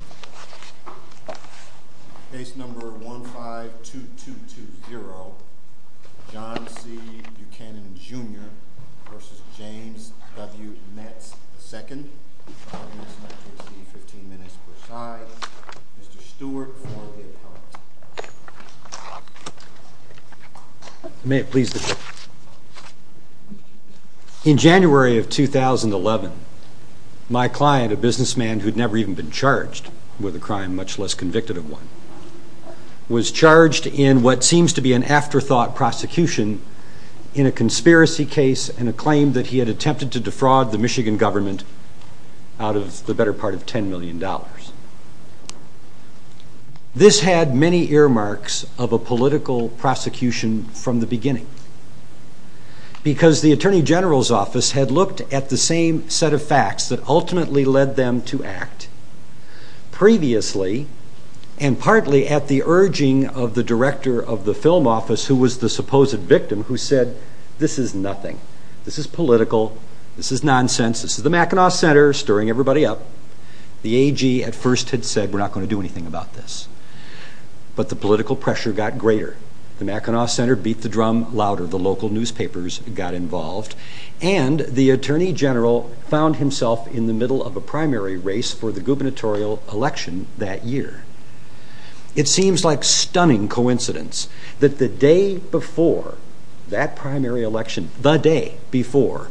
The case number 152220, John C. Buchanan, Jr. v. James W. Metz, II, is going to be 15 minutes per side. Mr. Stewart for the appellant. In January of 2011, my client, a businessman who had never even been charged with a crime, much less convicted of one, was charged in what seems to be an afterthought prosecution in a conspiracy case and a claim that he had attempted to defraud the Michigan government out of the better part of $10 million. This had many earmarks of a political prosecution from the beginning, because the Attorney General's office had looked at the same set of facts that ultimately led them to act previously, and partly at the urging of the director of the film office, who was the supposed victim, who said, this is nothing. This is political. This is nonsense. This is the Mackinac Center stirring everybody up. The AG at first had said, we're not going to do anything about this. But the political pressure got greater. The Mackinac Center beat the drum louder. The local newspapers got involved, and the Attorney General found himself in the middle of a primary race for the gubernatorial election that year. It seems like stunning coincidence that the day before that primary election, the day before,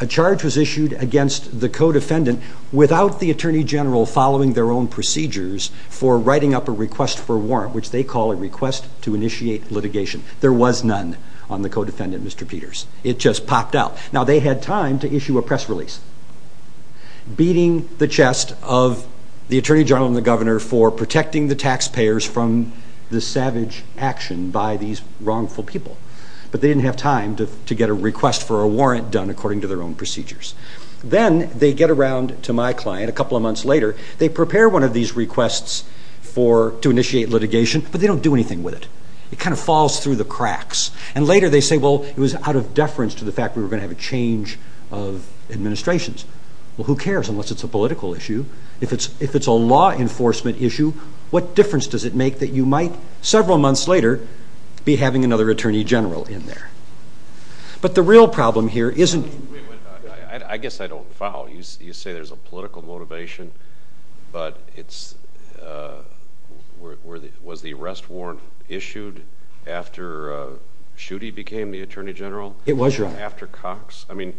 a charge was issued against the co-defendant without the Attorney General following their own procedures for writing up a request for warrant, which they call a request to initiate litigation. There was none on the co-defendant, Mr. Peters. It just popped out. Now they had time to issue a press release, beating the chest of the Attorney General and the governor for protecting the taxpayers from the savage action by these wrongful people. But they didn't have time to get a request for a warrant done according to their own procedures. Then they get around to my client, a couple of months later, they prepare one of these requests to initiate litigation, but they don't do anything with it. It kind of falls through the cracks. And later they say, well, it was out of deference to the fact we were going to have a change of administrations. Well, who cares unless it's a political issue? If it's, if it's a law enforcement issue, what difference does it make that you might, several months later, be having another Attorney General in there? But the real problem here isn't... I guess I don't follow. You say there's a political motivation, but it's, was the arrest warrant issued after Schutte became the Attorney General? It was, Your Honor. After Cox? I mean,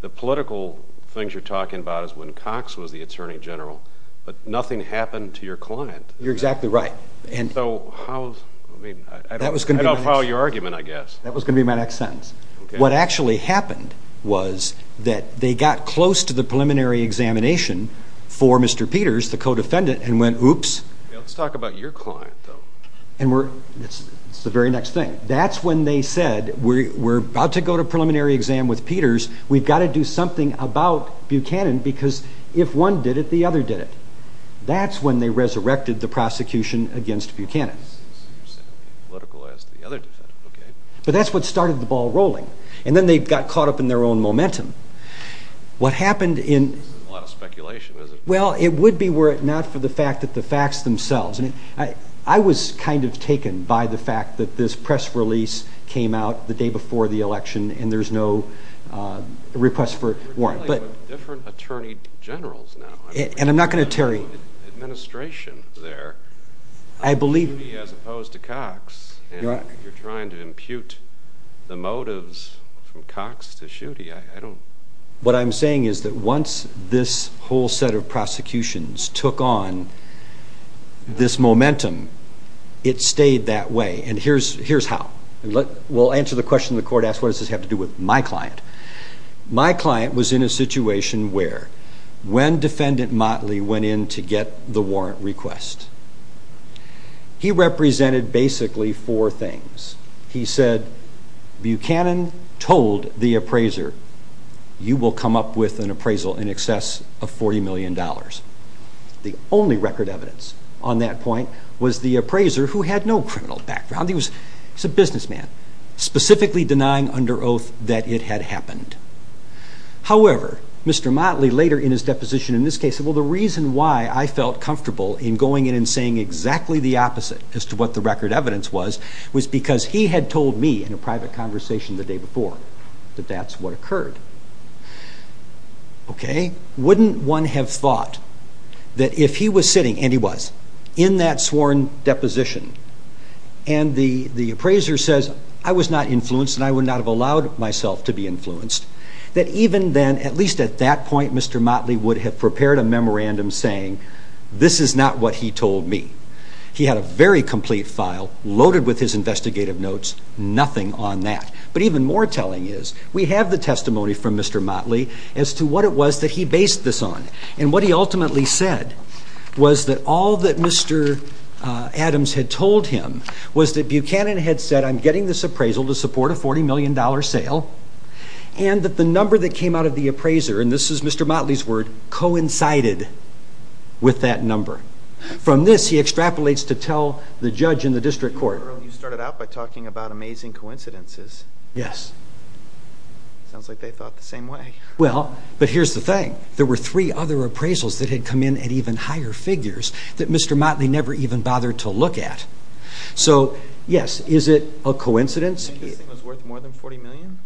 the political things you're talking about is when Cox was the Attorney General, but nothing happened to your client. You're exactly right. And so how, I mean, I don't follow your argument, I guess. That was going to be my next sentence. What actually happened was that they got close to the preliminary examination for Mr. Peters, the co-defendant, and went, oops. Let's talk about your client, though. And we're, it's the very next thing. That's when they said, we're about to go to preliminary exam with Peters. We've got to do something about Buchanan, because if one did it, the other did it. That's when they resurrected the prosecution against Buchanan. But that's what started the ball rolling. And then they got caught up in their own momentum. What happened in... This is a lot of speculation, isn't it? Well, it would be were it not for the fact that the facts themselves, I mean, I was kind of taken by the fact that this press release came out the day before the election, and there's no request for a warrant, but... You're dealing with different Attorney Generals now. And I'm not going to, Terry... Administration there. I believe... As opposed to Cox, and you're trying to impute the motives from Cox to Schutte, I don't... What I'm saying is that once this whole set of prosecutions took on this momentum, it stayed that way. And here's how. We'll answer the question the court asked, what does this have to do with my client? My client was in a situation where, when Defendant Motley went in to get the warrant request, he represented basically four things. He said, Buchanan told the appraiser, you will come up with an appraisal in excess of $40 million. The only record evidence on that point was the appraiser, who had no criminal background, he was a businessman, specifically denying under oath that it had happened. However, Mr. Motley, later in his deposition in this case, said, well, the reason why I felt comfortable in going in and saying exactly the opposite as to what the record evidence was, was because he had told me in a private conversation the day before that that's what occurred. Okay? Wouldn't one have thought that if he was sitting, and he was, in that sworn deposition, and the appraiser says, I was not influenced and I would not have allowed myself to be influenced, that even then, at least at that point, Mr. Motley would have prepared a memorandum saying, this is not what he told me. He had a very complete file, loaded with his investigative notes, nothing on that. But even more telling is, we have the testimony from Mr. Motley as to what it was that he Adams had told him, was that Buchanan had said, I'm getting this appraisal to support a $40 million sale, and that the number that came out of the appraiser, and this is Mr. Motley's word, coincided with that number. From this, he extrapolates to tell the judge in the district court. You started out by talking about amazing coincidences. Yes. Sounds like they thought the same way. Well, but here's the thing. There were three other appraisals that had come in at even higher figures that Mr. Motley never even bothered to look at. So, yes, is it a coincidence? Do you think it was worth more than $40 million?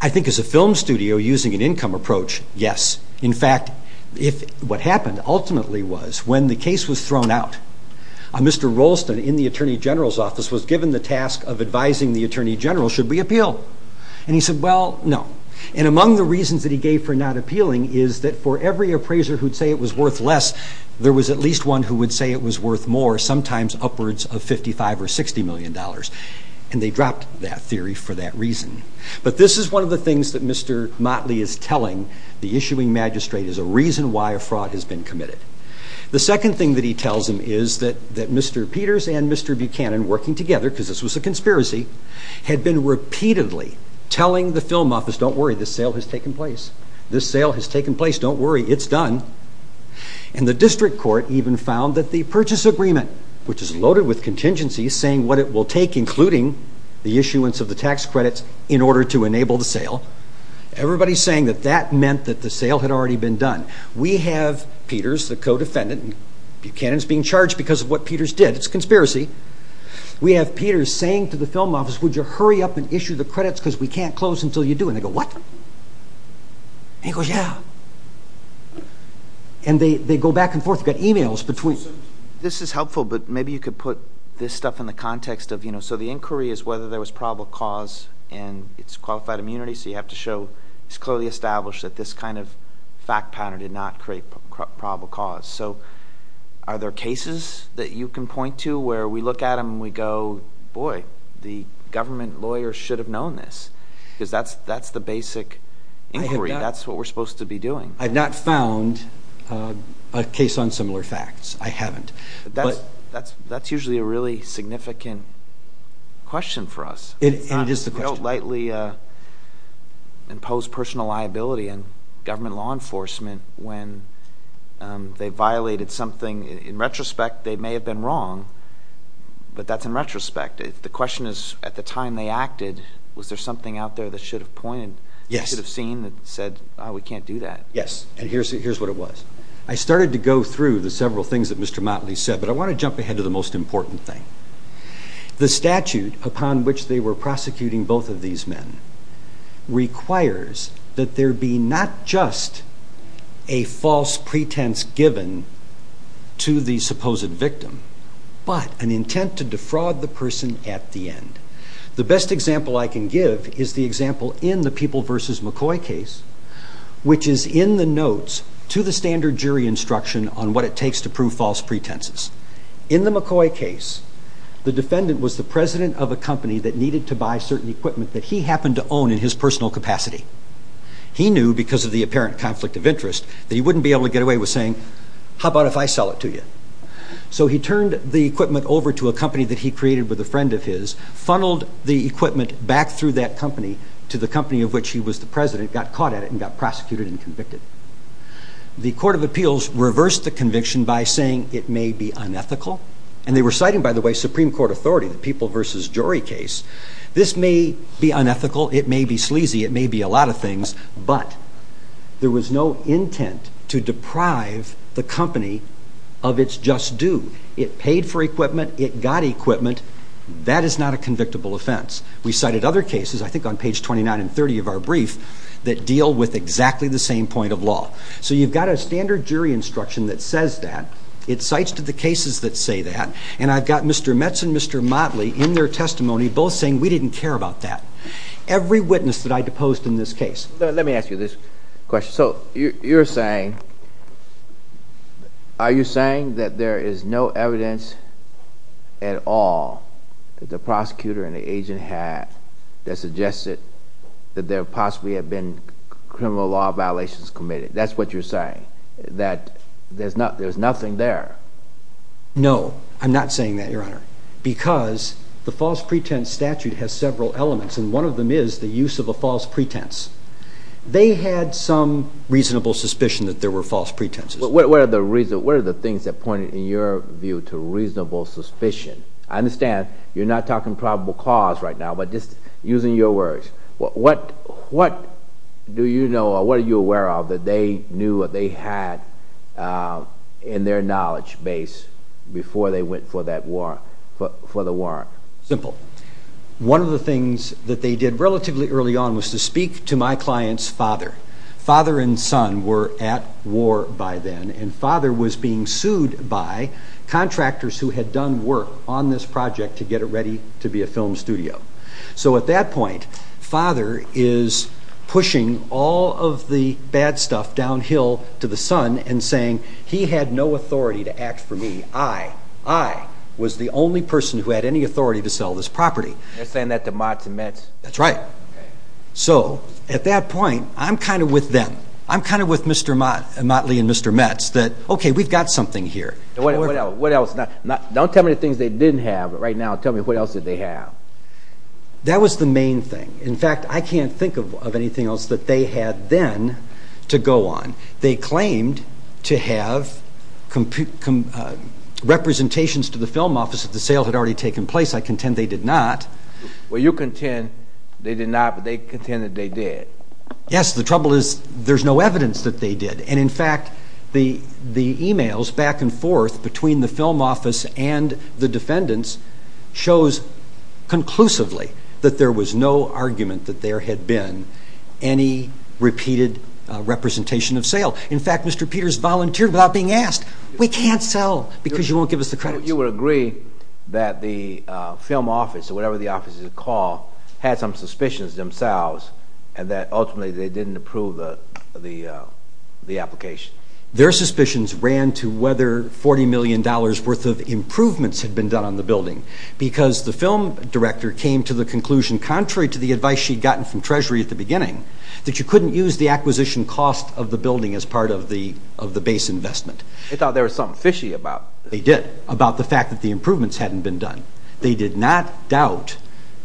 I think as a film studio, using an income approach, yes. In fact, if what happened ultimately was, when the case was thrown out, Mr. One of the reasons that he gave for not appealing is that for every appraiser who'd say it was worth less, there was at least one who would say it was worth more, sometimes upwards of $55 or $60 million. And they dropped that theory for that reason. But this is one of the things that Mr. Motley is telling the issuing magistrate, is a reason why a fraud has been committed. The second thing that he tells him is that Mr. Peters and Mr. Buchanan, working together, because this was a conspiracy, had been repeatedly telling the film office, don't worry, this sale has taken place. This sale has taken place, don't worry, it's done. And the district court even found that the purchase agreement, which is loaded with contingencies, saying what it will take, including the issuance of the tax credits, in order to enable the sale. Everybody's saying that that meant that the sale had already been done. We have Peters, the co-defendant, Buchanan's being charged because of what Peters did. It's a conspiracy. We have Peters saying to the film office, would you hurry up and issue the credits because we can't close until you do. And they go, what? And he goes, yeah. And they go back and forth. We've got emails between... This is helpful, but maybe you could put this stuff in the context of, you know, so the inquiry is whether there was probable cause and it's qualified immunity. So you have to show it's clearly established that this kind of fact pattern did not create probable cause. So are there cases that you can point to where we look at them and we go, boy, the government lawyers should have known this because that's the basic inquiry. That's what we're supposed to be doing. I've not found a case on similar facts. I haven't. But that's usually a really significant question for us. It is the question. I don't lightly impose personal liability on government law enforcement when they violated something. In retrospect, they may have been wrong, but that's in retrospect. The question is, at the time they acted, was there something out there that should have pointed, should have seen that said, oh, we can't do that. Yes. And here's what it was. I started to go through the several things that Mr. Motley said, but I want to jump ahead to the most important thing. The statute upon which they were prosecuting both of these men requires that there be not just a false pretense given to the supposed victim, but an intent to defraud the person at the end. The best example I can give is the example in the People v. McCoy case, which is in the notes to the standard jury instruction on what it takes to prove false pretenses. In the McCoy case, the defendant was the president of a company that needed to buy certain equipment that he happened to own in his personal capacity. He knew, because of the apparent conflict of interest, that he wouldn't be able to get away with saying, how about if I sell it to you? So he turned the equipment over to a company that he created with a friend of his, funneled the equipment back through that company to the company of which he was the president, got caught at it, and got prosecuted and convicted. The Court of Appeals reversed the conviction by saying it may be unethical, and they were citing, by the way, Supreme Court authority, the People v. Jury case, this may be unethical, it may be sleazy, it may be a lot of things, but there was no intent to deprive the company of its just due. It paid for equipment, it got equipment, that is not a convictable offense. We cited other cases, I think on page 29 and 30 of our brief, that deal with exactly the same point of law. So you've got a standard jury instruction that says that, it cites to the cases that say that, and I've got Mr. Metz and Mr. Motley in their testimony both saying, we didn't care about that. Every witness that I deposed in this case. Let me ask you this question. So, you're saying, are you saying that there is no evidence at all that the prosecutor and the agent had that suggested that there possibly had been criminal law violations committed, that's what you're saying, that there's nothing there? No, I'm not saying that, Your Honor, because the false pretense statute has several elements, and one of them is the use of a false pretense. They had some reasonable suspicion that there were false pretenses. What are the things that pointed, in your view, to reasonable suspicion? I understand you're not talking probable cause right now, but just using your words, what do you know or what are you aware of that they knew or they had in their knowledge base before they went for that warrant, for the warrant? Simple. One of the things that they did relatively early on was to speak to my client's father. Father and son were at war by then, and father was being sued by contractors who had done work on this project to get it ready to be a film studio. So at that point, father is pushing all of the bad stuff downhill to the son and saying, he had no authority to act for me. I, I was the only person who had any authority to sell this property. You're saying that to Motley and Metz? That's right. So, at that point, I'm kind of with them, I'm kind of with Mr. Motley and Mr. Metz, that, okay, we've got something here. What else, don't tell me the things they didn't have, but right now, tell me what else did they have? That was the main thing. In fact, I can't think of anything else that they had then to go on. They claimed to have compu, com, representations to the film office that the sale had already taken place. I contend they did not. Well, you contend they did not, but they contend that they did. Yes, the trouble is, there's no evidence that they did. And in fact, the, the emails back and forth between the film office and the defendants shows conclusively that there was no argument that there had been any repeated representation of sale. In fact, Mr. Peters volunteered without being asked, we can't sell because you won't give us the credits. You would agree that the film office, or whatever the office is called, had some suspicions themselves, and that ultimately they didn't approve the, the, the application. Their suspicions ran to whether $40 million worth of improvements had been done on the building, because the film director came to the conclusion, contrary to the advice she'd gotten from Treasury at the beginning, that you couldn't use the acquisition cost of the building as part of the, of the base investment. They thought there was something fishy about it. They did, about the fact that the improvements hadn't been done. They did not doubt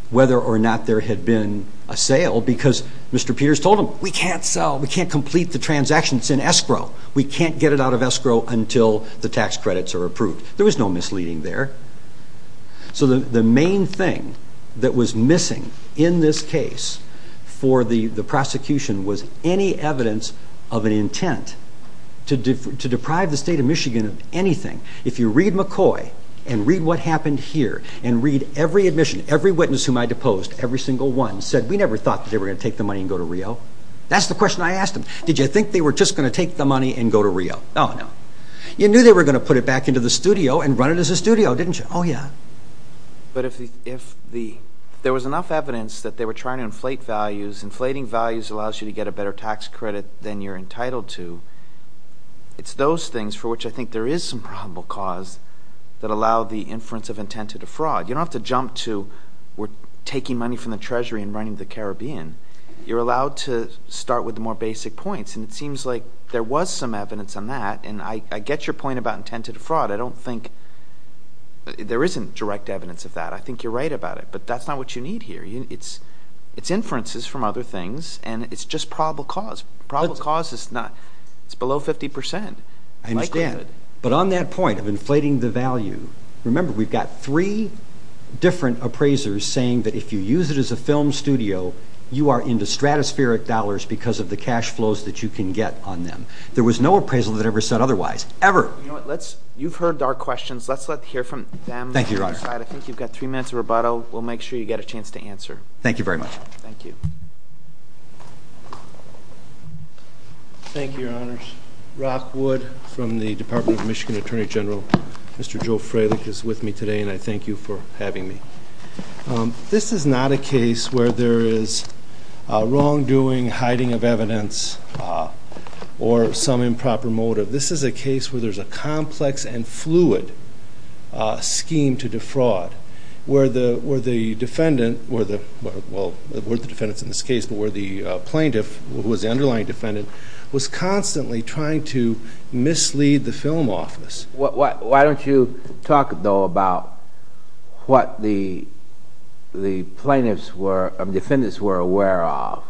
whether or not there had been a sale, because Mr. Peters told them, we can't sell. We can't complete the transactions in escrow. We can't get it out of escrow until the tax credits are approved. There was no misleading there. So the, the main thing that was missing in this case for the, the prosecution was any evidence of an intent to, to deprive the state of Michigan of anything. If you read McCoy, and read what happened here, and read every admission, every witness whom I deposed, every single one said, we never thought that they were going to take the money and go to Rio. That's the question I asked them. Did you think they were just going to take the money and go to Rio? Oh, no. You knew they were going to put it back into the studio and run it as a studio, didn't you? Oh, yeah. But if the, if the, there was enough evidence that they were trying to inflate values. Inflating values allows you to get a better tax credit than you're entitled to. It's those things for which I think there is some probable cause that allow the inference of intent to defraud. You don't have to jump to, we're taking money from the treasury and running the Caribbean. You're allowed to start with the more basic points, and it seems like there was some evidence on that. And I get your point about intent to defraud. I don't think, there isn't direct evidence of that. I think you're right about it. But that's not what you need here. It's inferences from other things, and it's just probable cause. Probable cause is not, it's below 50%. I understand. But on that point of inflating the value. Remember, we've got three different appraisers saying that if you use it as a film studio, you are into stratospheric dollars because of the cash flows that you can get on them. There was no appraisal that ever said otherwise. Ever. You've heard our questions. Let's hear from them. Thank you, Your Honor. I think you've got three minutes of rebuttal. We'll make sure you get a chance to answer. Thank you very much. Thank you. Thank you, Your Honors. Rock Wood from the Department of Michigan Attorney General. Mr. Joe Fralick is with me today, and I thank you for having me. This is not a case where there is wrongdoing, hiding of evidence, or some improper motive. This is a case where there's a complex and fluid scheme to defraud, where the defendant, well, it weren't the defendants in this case, but where the plaintiff, who was the underlying defendant, was constantly trying to mislead the film office. Why don't you talk, though, about what the defendants were aware of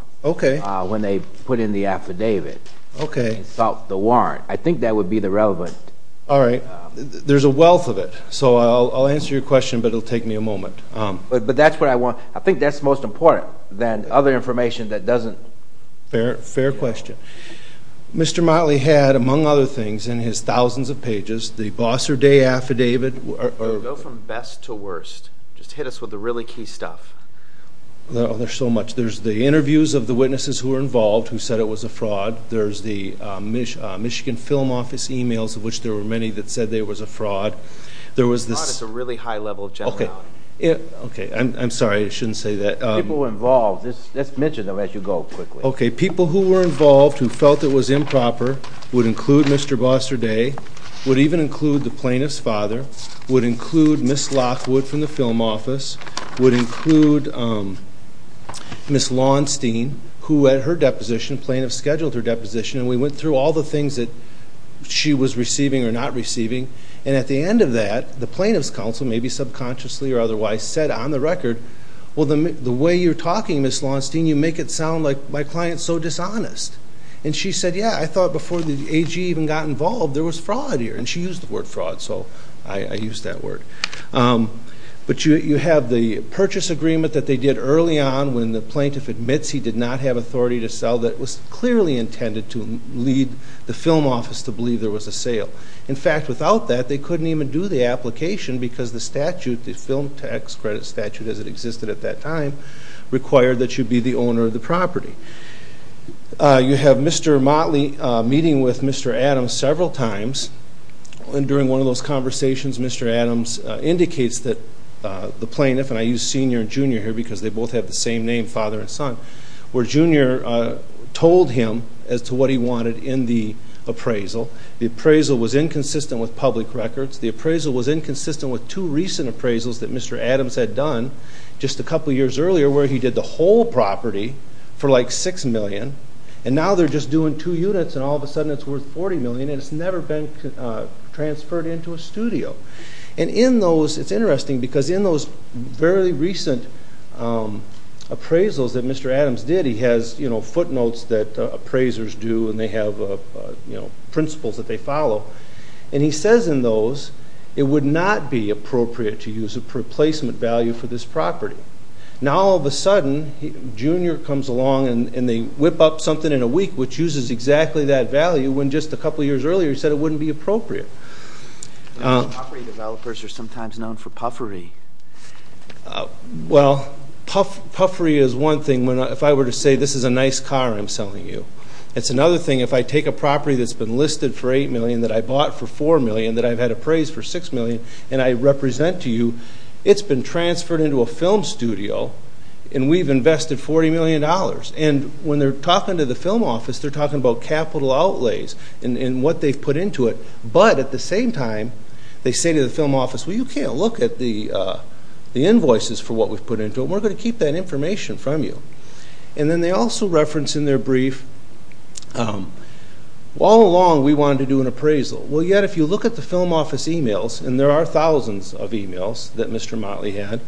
when they put in the affidavit about the warrant? I think that would be the relevant... All right. There's a wealth of it. So I'll answer your question, but it'll take me a moment. But that's what I want. I think that's most important than other information that doesn't... Fair question. Mr. Motley had, among other things, in his thousands of pages, the Bosser Day affidavit or... Go from best to worst. Just hit us with the really key stuff. Well, there's so much. There's the interviews of the witnesses who were involved, who said it was a fraud. There's the Michigan Film Office emails, of which there were many that said there was a fraud. There was this... Fraud is a really high level of general knowledge. Okay. I'm sorry. I shouldn't say that. People were involved. Just mention them as you go, quickly. Okay. People who were involved, who felt it was improper, would include Mr. Bosser Day, would even include the plaintiff's father, would include Ms. Lockwood from the film office, would include Ms. Launstein, who at her deposition, plaintiff scheduled her deposition, and we went through all the things that she was receiving or not receiving. And at the end of that, the plaintiff's counsel, maybe subconsciously or otherwise, said on the record, well, the way you're talking, Ms. Launstein, you make it sound like my client's so dishonest. And she said, yeah, I thought before the AG even got involved, there was fraud here. And she used the word fraud. So I used that word. But you have the purchase agreement that they did early on when the plaintiff admits he did not have authority to sell that was clearly intended to lead the film office to believe there was a sale. In fact, without that, they couldn't even do the application because the statute, the film tax credit statute, as it existed at that time, required that you be the owner of the property. You have Mr. Motley meeting with Mr. Adams several times. And during one of those conversations, Mr. Adams indicates that the plaintiff, and I use senior and junior here because they both have the same name, father and son, where junior told him as to what he wanted in the appraisal. The appraisal was inconsistent with public records. The appraisal was inconsistent with two recent appraisals that Mr. Adams had done just a couple of years earlier where he did the whole property for like $6 million. And now they're just doing two units and all of a sudden it's worth $40 million and it's never been transferred into a studio. And in those, it's interesting, because in those very recent appraisals that Mr. Adams did, he has, you know, footnotes that appraisers do and they have, you know, principles that they follow. And he says in those it would not be appropriate to use a replacement value for this property. Now all of a sudden, junior comes along and they whip up something in a week which uses exactly that value when just a couple of years earlier he said it wouldn't be appropriate. And property developers are sometimes known for puffery. Well, puffery is one thing. If I were to say this is a nice car I'm selling you, it's another thing if I take a property that's been listed for $8 million that I bought for $4 million that I've had appraised for $6 million and I represent to you, it's been transferred into a film studio and we've invested $40 million. And when they're talking to the film office, they're talking about capital outlays and what they've put into it. But at the same time, they say to the film office, well, you can't look at the invoices for what we've put into it. We're going to keep that information from you. And then they also reference in their brief, all along we wanted to do an appraisal. Well, yet if you look at the film office emails, and there are thousands of emails that Mr. Motley had,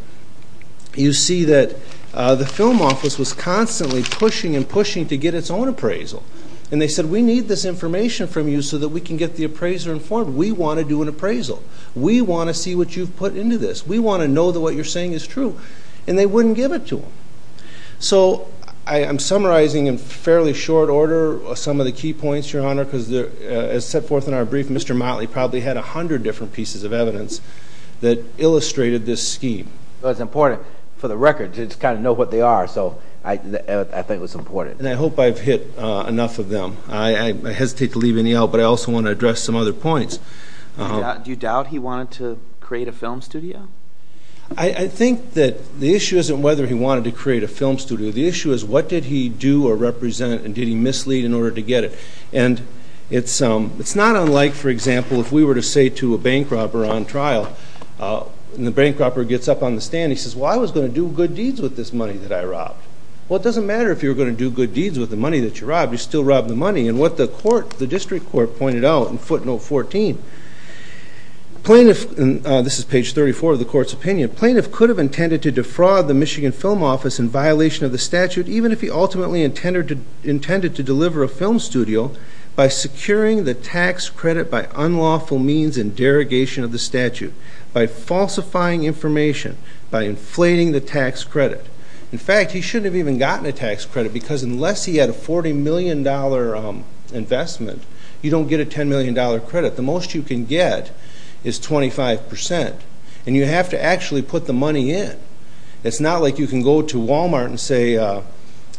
you see that the film office was constantly pushing and pushing to get its own appraisal. They said, we need this information from you so that we can get the appraiser informed. We want to do an appraisal. We want to see what you've put into this. We want to know that what you're saying is true. And they wouldn't give it to them. So I'm summarizing in fairly short order some of the key points, Your Honor, because as set forth in our brief, Mr. Motley probably had a hundred different pieces of evidence that illustrated this scheme. It was important for the record to just kind of know what they are. So I think it was important. And I hope I've hit enough of them. I hesitate to leave any out, but I also want to address some other points. Do you doubt he wanted to create a film studio? I think that the issue isn't whether he wanted to create a film studio. The issue is what did he do or represent and did he mislead in order to get it? And it's not unlike, for example, if we were to say to a bank robber on trial, and the bank robber gets up on the stand, he says, well, I was going to do good deeds with this money that I robbed. Well, it doesn't matter if you were going to do good deeds with the money that you robbed, you still robbed the money. And what the court, the district court pointed out in footnote 14, plaintiff, and this is page 34 of the court's opinion, plaintiff could have intended to defraud the Michigan film office in violation of the statute, even if he ultimately intended to deliver a film studio by securing the tax credit by unlawful means and derogation of the statute, by falsifying information, by inflating the tax credit. In fact, he shouldn't have even gotten a tax credit because unless he had a $40 million investment, you don't get a $10 million credit. The most you can get is 25%. And you have to actually put the money in. It's not like you can go to Walmart and say,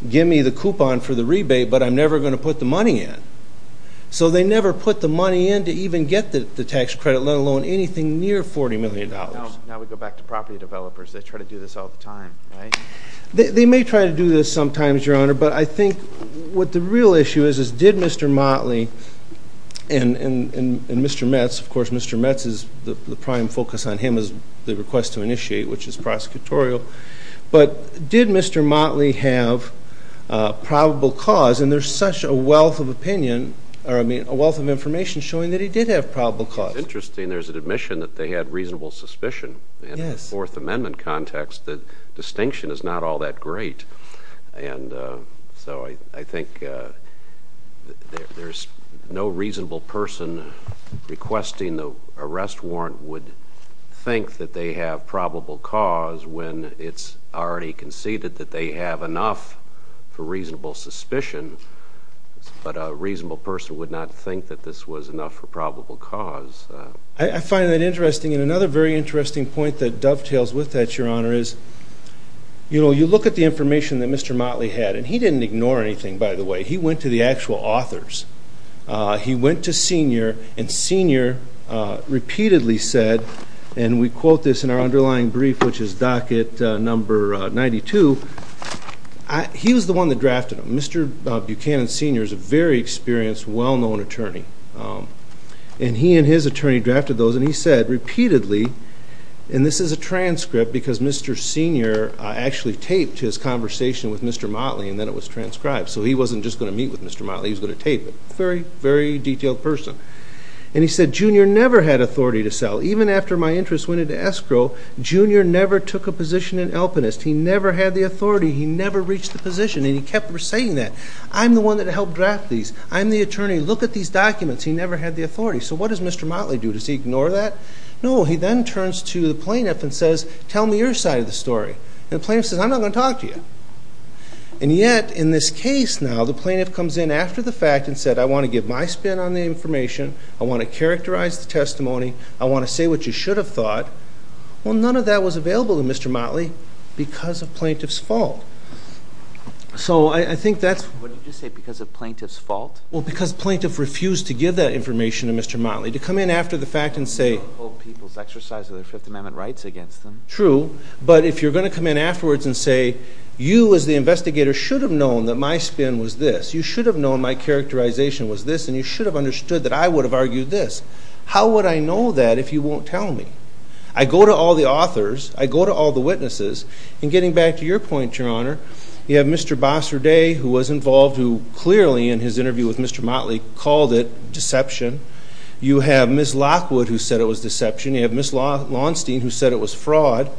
give me the coupon for the rebate, but I'm never going to put the money in. So they never put the money in to even get the tax credit, let alone anything near $40 million. Now we go back to property developers. They try to do this all the time. They may try to do this sometimes, Your Honor, but I think what the real issue is, is did Mr. Motley and Mr. Metz, of course, Mr. Metz is the prime focus on him as the request to initiate, which is prosecutorial. But did Mr. Motley have probable cause? And there's such a wealth of opinion, or I mean, a wealth of information showing that he did have probable cause. It's interesting there's an admission that they had reasonable suspicion. In the Fourth Amendment context, the distinction is not all that great. And so I think there's no reasonable person requesting the arrest warrant would think that they have probable cause when it's already conceded that they have enough for reasonable suspicion. But a reasonable person would not think that this was enough for probable cause. I find that interesting. And another very interesting point that dovetails with that, Your Honor, is you look at the information that Mr. Motley had, and he didn't ignore anything, by the way. He went to the actual authors. He went to Senior, and Senior repeatedly said, and we quote this in our underlying brief, which is docket number 92. He was the one that drafted them. Mr. Buchanan Senior is a very experienced, well-known attorney. And he and his attorney drafted those, and he said repeatedly, and this is a transcript because Mr. Senior actually taped his conversation with Mr. Motley, and then it was transcribed. So he wasn't just going to meet with Mr. Motley. He was going to tape it. Very, very detailed person. And he said, Junior never had authority to sell. Even after my interest went into escrow, Junior never took a position in Alpinist. He never had the authority. He never reached the position. And he kept saying that. I'm the one that helped draft these. I'm the attorney. Look at these documents. He never had the authority. So what does Mr. Motley do? Does he ignore that? No, he then turns to the plaintiff and says, tell me your side of the story. And the plaintiff says, I'm not going to talk to you. And yet in this case now, the plaintiff comes in after the fact and said, I want to give my spin on the information. I want to characterize the testimony. I want to say what you should have thought. Well, none of that was available to Mr. Motley because of plaintiff's fault. So I think that's... What did you say? Because of plaintiff's fault? Well, because plaintiff refused to give that information to Mr. Motley. To come in after the fact and say... ...people's exercise of their Fifth Amendment rights against them. True. But if you're going to come in afterwards and say, you as the investigator should have known that my spin was this. You should have known my characterization was this. And you should have understood that I would have argued this. How would I know that if you won't tell me? I go to all the authors. I go to all the witnesses. And getting back to your point, Your Honor, you have Mr. Bossarday who was involved, who clearly in his interview with Mr. Motley called it deception. You have Ms. Lockwood who said it was deception. You have Ms. Launstein who said it was fraud.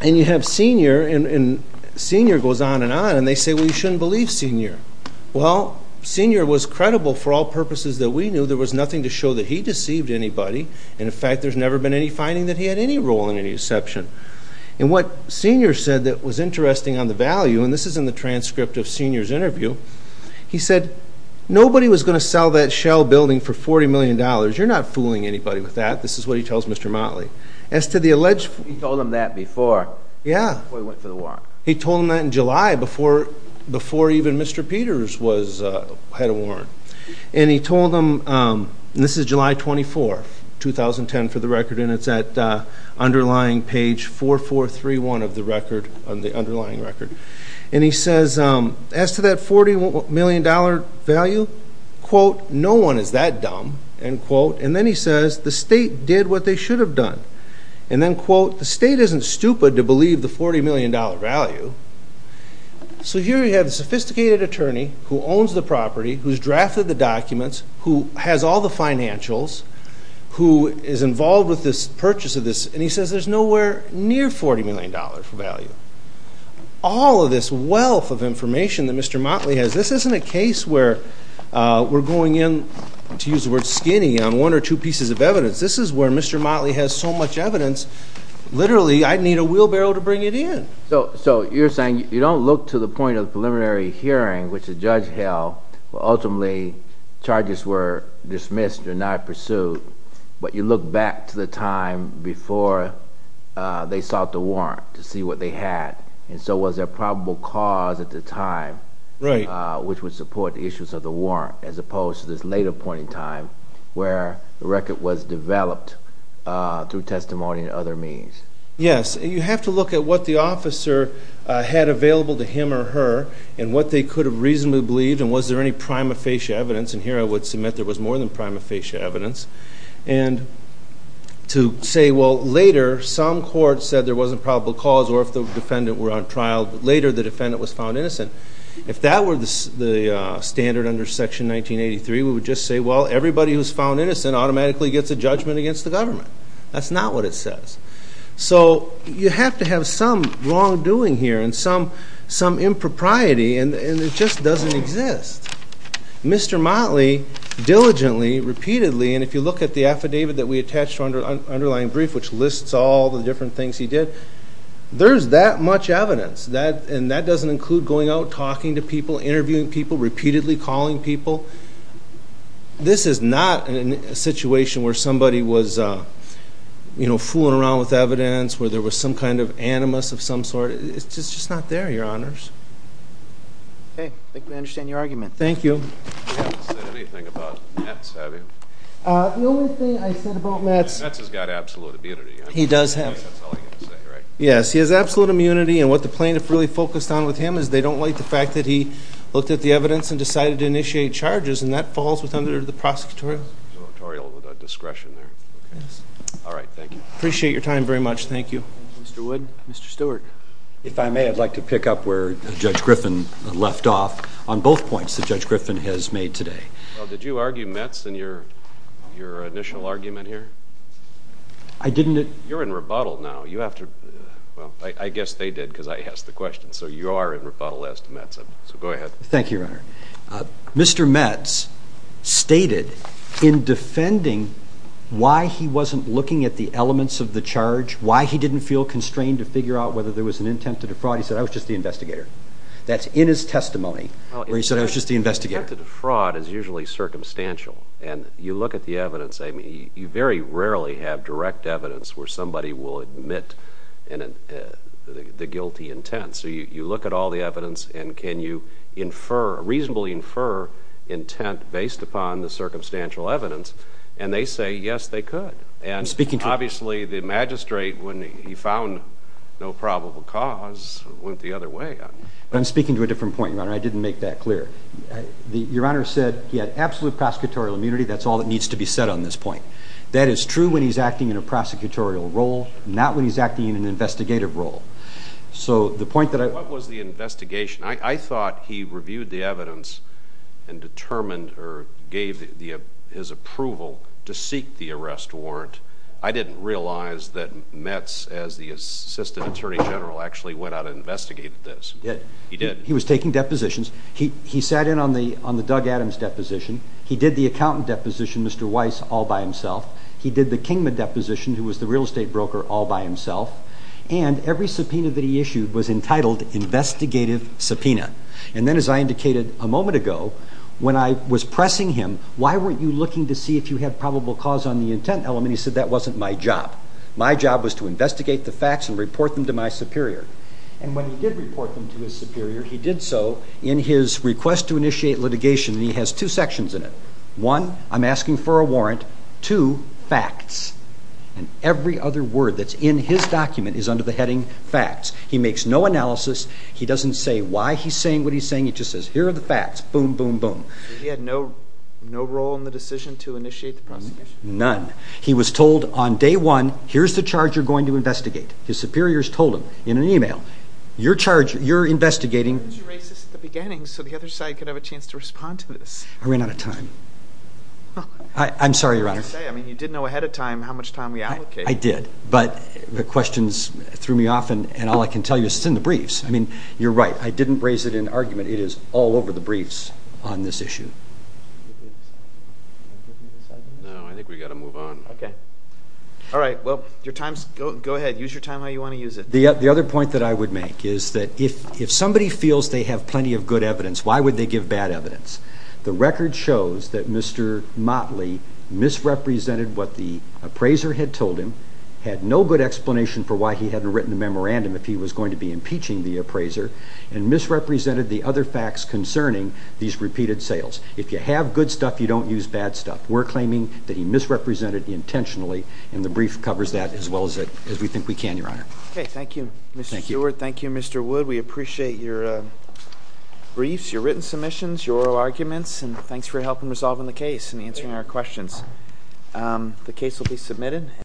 And you have Senior. And Senior goes on and on. And they say, well, you shouldn't believe Senior. Well, Senior was credible for all purposes that we knew. There was nothing to show that he deceived anybody. And in fact, there's never been any finding that he had any role in any deception. And what Senior said that was interesting on the value, and this is in the transcript of Senior's interview, he said, nobody was going to sell that shell building for $40 million. You're not fooling anybody with that. This is what he tells Mr. Motley. As to the alleged- He told him that before. Yeah. Before he went for the warrant. He told him that in July before even Mr. Peters had a warrant. And he told him, and this is July 24, 2010 for the record, and it's at underlying page 4431 of the record, on the underlying record. And he says, as to that $40 million value, quote, no one is that dumb, end quote. And then he says, the state did what they should have done. And then quote, the state isn't stupid to believe the $40 million value. So here you have a sophisticated attorney who owns the property, who's drafted the documents, who has all the financials, who is involved with this purchase of this. And he says, there's nowhere near $40 million for value. All of this wealth of information that Mr. Motley has, this isn't a case where we're going in, to use the word skinny, on one or two pieces of evidence. This is where Mr. Motley has so much evidence, literally, I'd need a wheelbarrow to bring it in. So you're saying you don't look to the point of the preliminary hearing, which the judge held, where ultimately charges were dismissed or not pursued. But you look back to the time before they sought the warrant to see what they had. And so was there probable cause at the time, which would support the issues of the warrant, as opposed to this later point in time, where the record was developed through testimony and other means? Yes, you have to look at what the officer had available to him or her, and what they could have reasonably believed, and was there any prima facie evidence. And here I would submit there was more than prima facie evidence. And to say, well, later, some court said there wasn't probable cause, or if the defendant were on trial later, the defendant was found innocent. If that were the standard under Section 1983, we would just say, well, everybody who's found innocent automatically gets a judgment against the government. That's not what it says. So you have to have some wrongdoing here and some impropriety, and it just doesn't exist. Mr. Motley diligently, repeatedly, and if you look at the affidavit that we attached to our underlying brief, which lists all the different things he did, there's that much evidence. And that doesn't include going out, talking to people, interviewing people, repeatedly calling people. This is not a situation where somebody was fooling around with evidence, where there was some kind of animus of some sort. It's just not there, Your Honors. Okay, I think I understand your argument. Thank you. You haven't said anything about Metz, have you? The only thing I said about Metz... Metz has got absolute immunity. He does have. That's all I can say, right? Yes, he has absolute immunity, and what the plaintiff really focused on with him is they don't like the fact that he looked at the evidence and decided to initiate charges, and that falls under the prosecutorial discretion there. All right, thank you. Appreciate your time very much. Thank you. Mr. Wood. Mr. Stewart. If I may, I'd like to pick up where Judge Griffin left off on both points that Judge Griffin has made today. Did you argue Metz in your initial argument here? I didn't. You're in rebuttal now. Well, I guess they did because I asked the question, so you are in rebuttal as to Metz. So go ahead. Thank you, Your Honor. Mr. Metz stated in defending why he wasn't looking at the elements of the charge, why he didn't feel constrained to figure out whether there was an intent to defraud, he said, I was just the investigator. That's in his testimony where he said, I was just the investigator. An intent to defraud is usually circumstantial, and you look at the evidence, I mean, you very rarely have direct evidence where somebody will admit the guilty intent. So you look at all the evidence, and can you infer, reasonably infer, intent based upon the circumstantial evidence? And they say, yes, they could. And obviously, the magistrate, when he found no probable cause, went the other way. But I'm speaking to a different point, Your Honor. I didn't make that clear. Your Honor said he had absolute prosecutorial immunity. That's all that needs to be said on this point. That is true when he's acting in a prosecutorial role, not when he's acting in an investigative role. So the point that I... What was the investigation? I thought he reviewed the evidence and determined or gave his approval to seek the arrest warrant. I didn't realize that Metz, as the assistant attorney general, actually went out and investigated this. He did. He was taking depositions. He sat in on the Doug Adams deposition. He did the accountant deposition, Mr. Weiss, all by himself. He did the Kingman deposition, who was the real estate broker, all by himself. And every subpoena that he issued was entitled investigative subpoena. And then, as I indicated a moment ago, when I was pressing him, why weren't you looking to see if you had probable cause on the intent element? He said, that wasn't my job. My job was to investigate the facts and report them to my superior. And when he did report them to his superior, he did so in his request to initiate litigation. And he has two sections in it. One, I'm asking for a warrant. Two, facts. And every other word that's in his document is under the heading facts. He makes no analysis. He doesn't say why he's saying what he's saying. He just says, here are the facts. Boom, boom, boom. He had no role in the decision to initiate the prosecution? None. He was told on day one, here's the charge you're going to investigate. His superiors told him in an email, you're investigating... Why didn't you erase this at the beginning so the other side could have a chance to respond to this? I ran out of time. I'm sorry, Your Honor. I mean, you did know ahead of time how much time we allocated. I did. But the questions threw me off and all I can tell you is it's in the briefs. I mean, you're right. I didn't raise it in argument. It is all over the briefs on this issue. No, I think we got to move on. Okay. All right. Well, your time's... Go ahead. Use your time how you want to use it. The other point that I would make is that if somebody feels they have plenty of good evidence, why would they give bad evidence? The record shows that Mr. Motley misrepresented what the appraiser had told him, had no good explanation for why he hadn't written a memorandum if he was going to be impeaching the appraiser, and misrepresented the other facts concerning these repeated sales. If you have good stuff, you don't use bad stuff. We're claiming that he misrepresented intentionally and the brief covers that as well as we think we can, Your Honor. Okay. Thank you, Mr. Stewart. Thank you, Mr. Wood. We appreciate your briefs, your written submissions, your arguments, and thanks for helping resolving the case and answering our questions. The case will be submitted.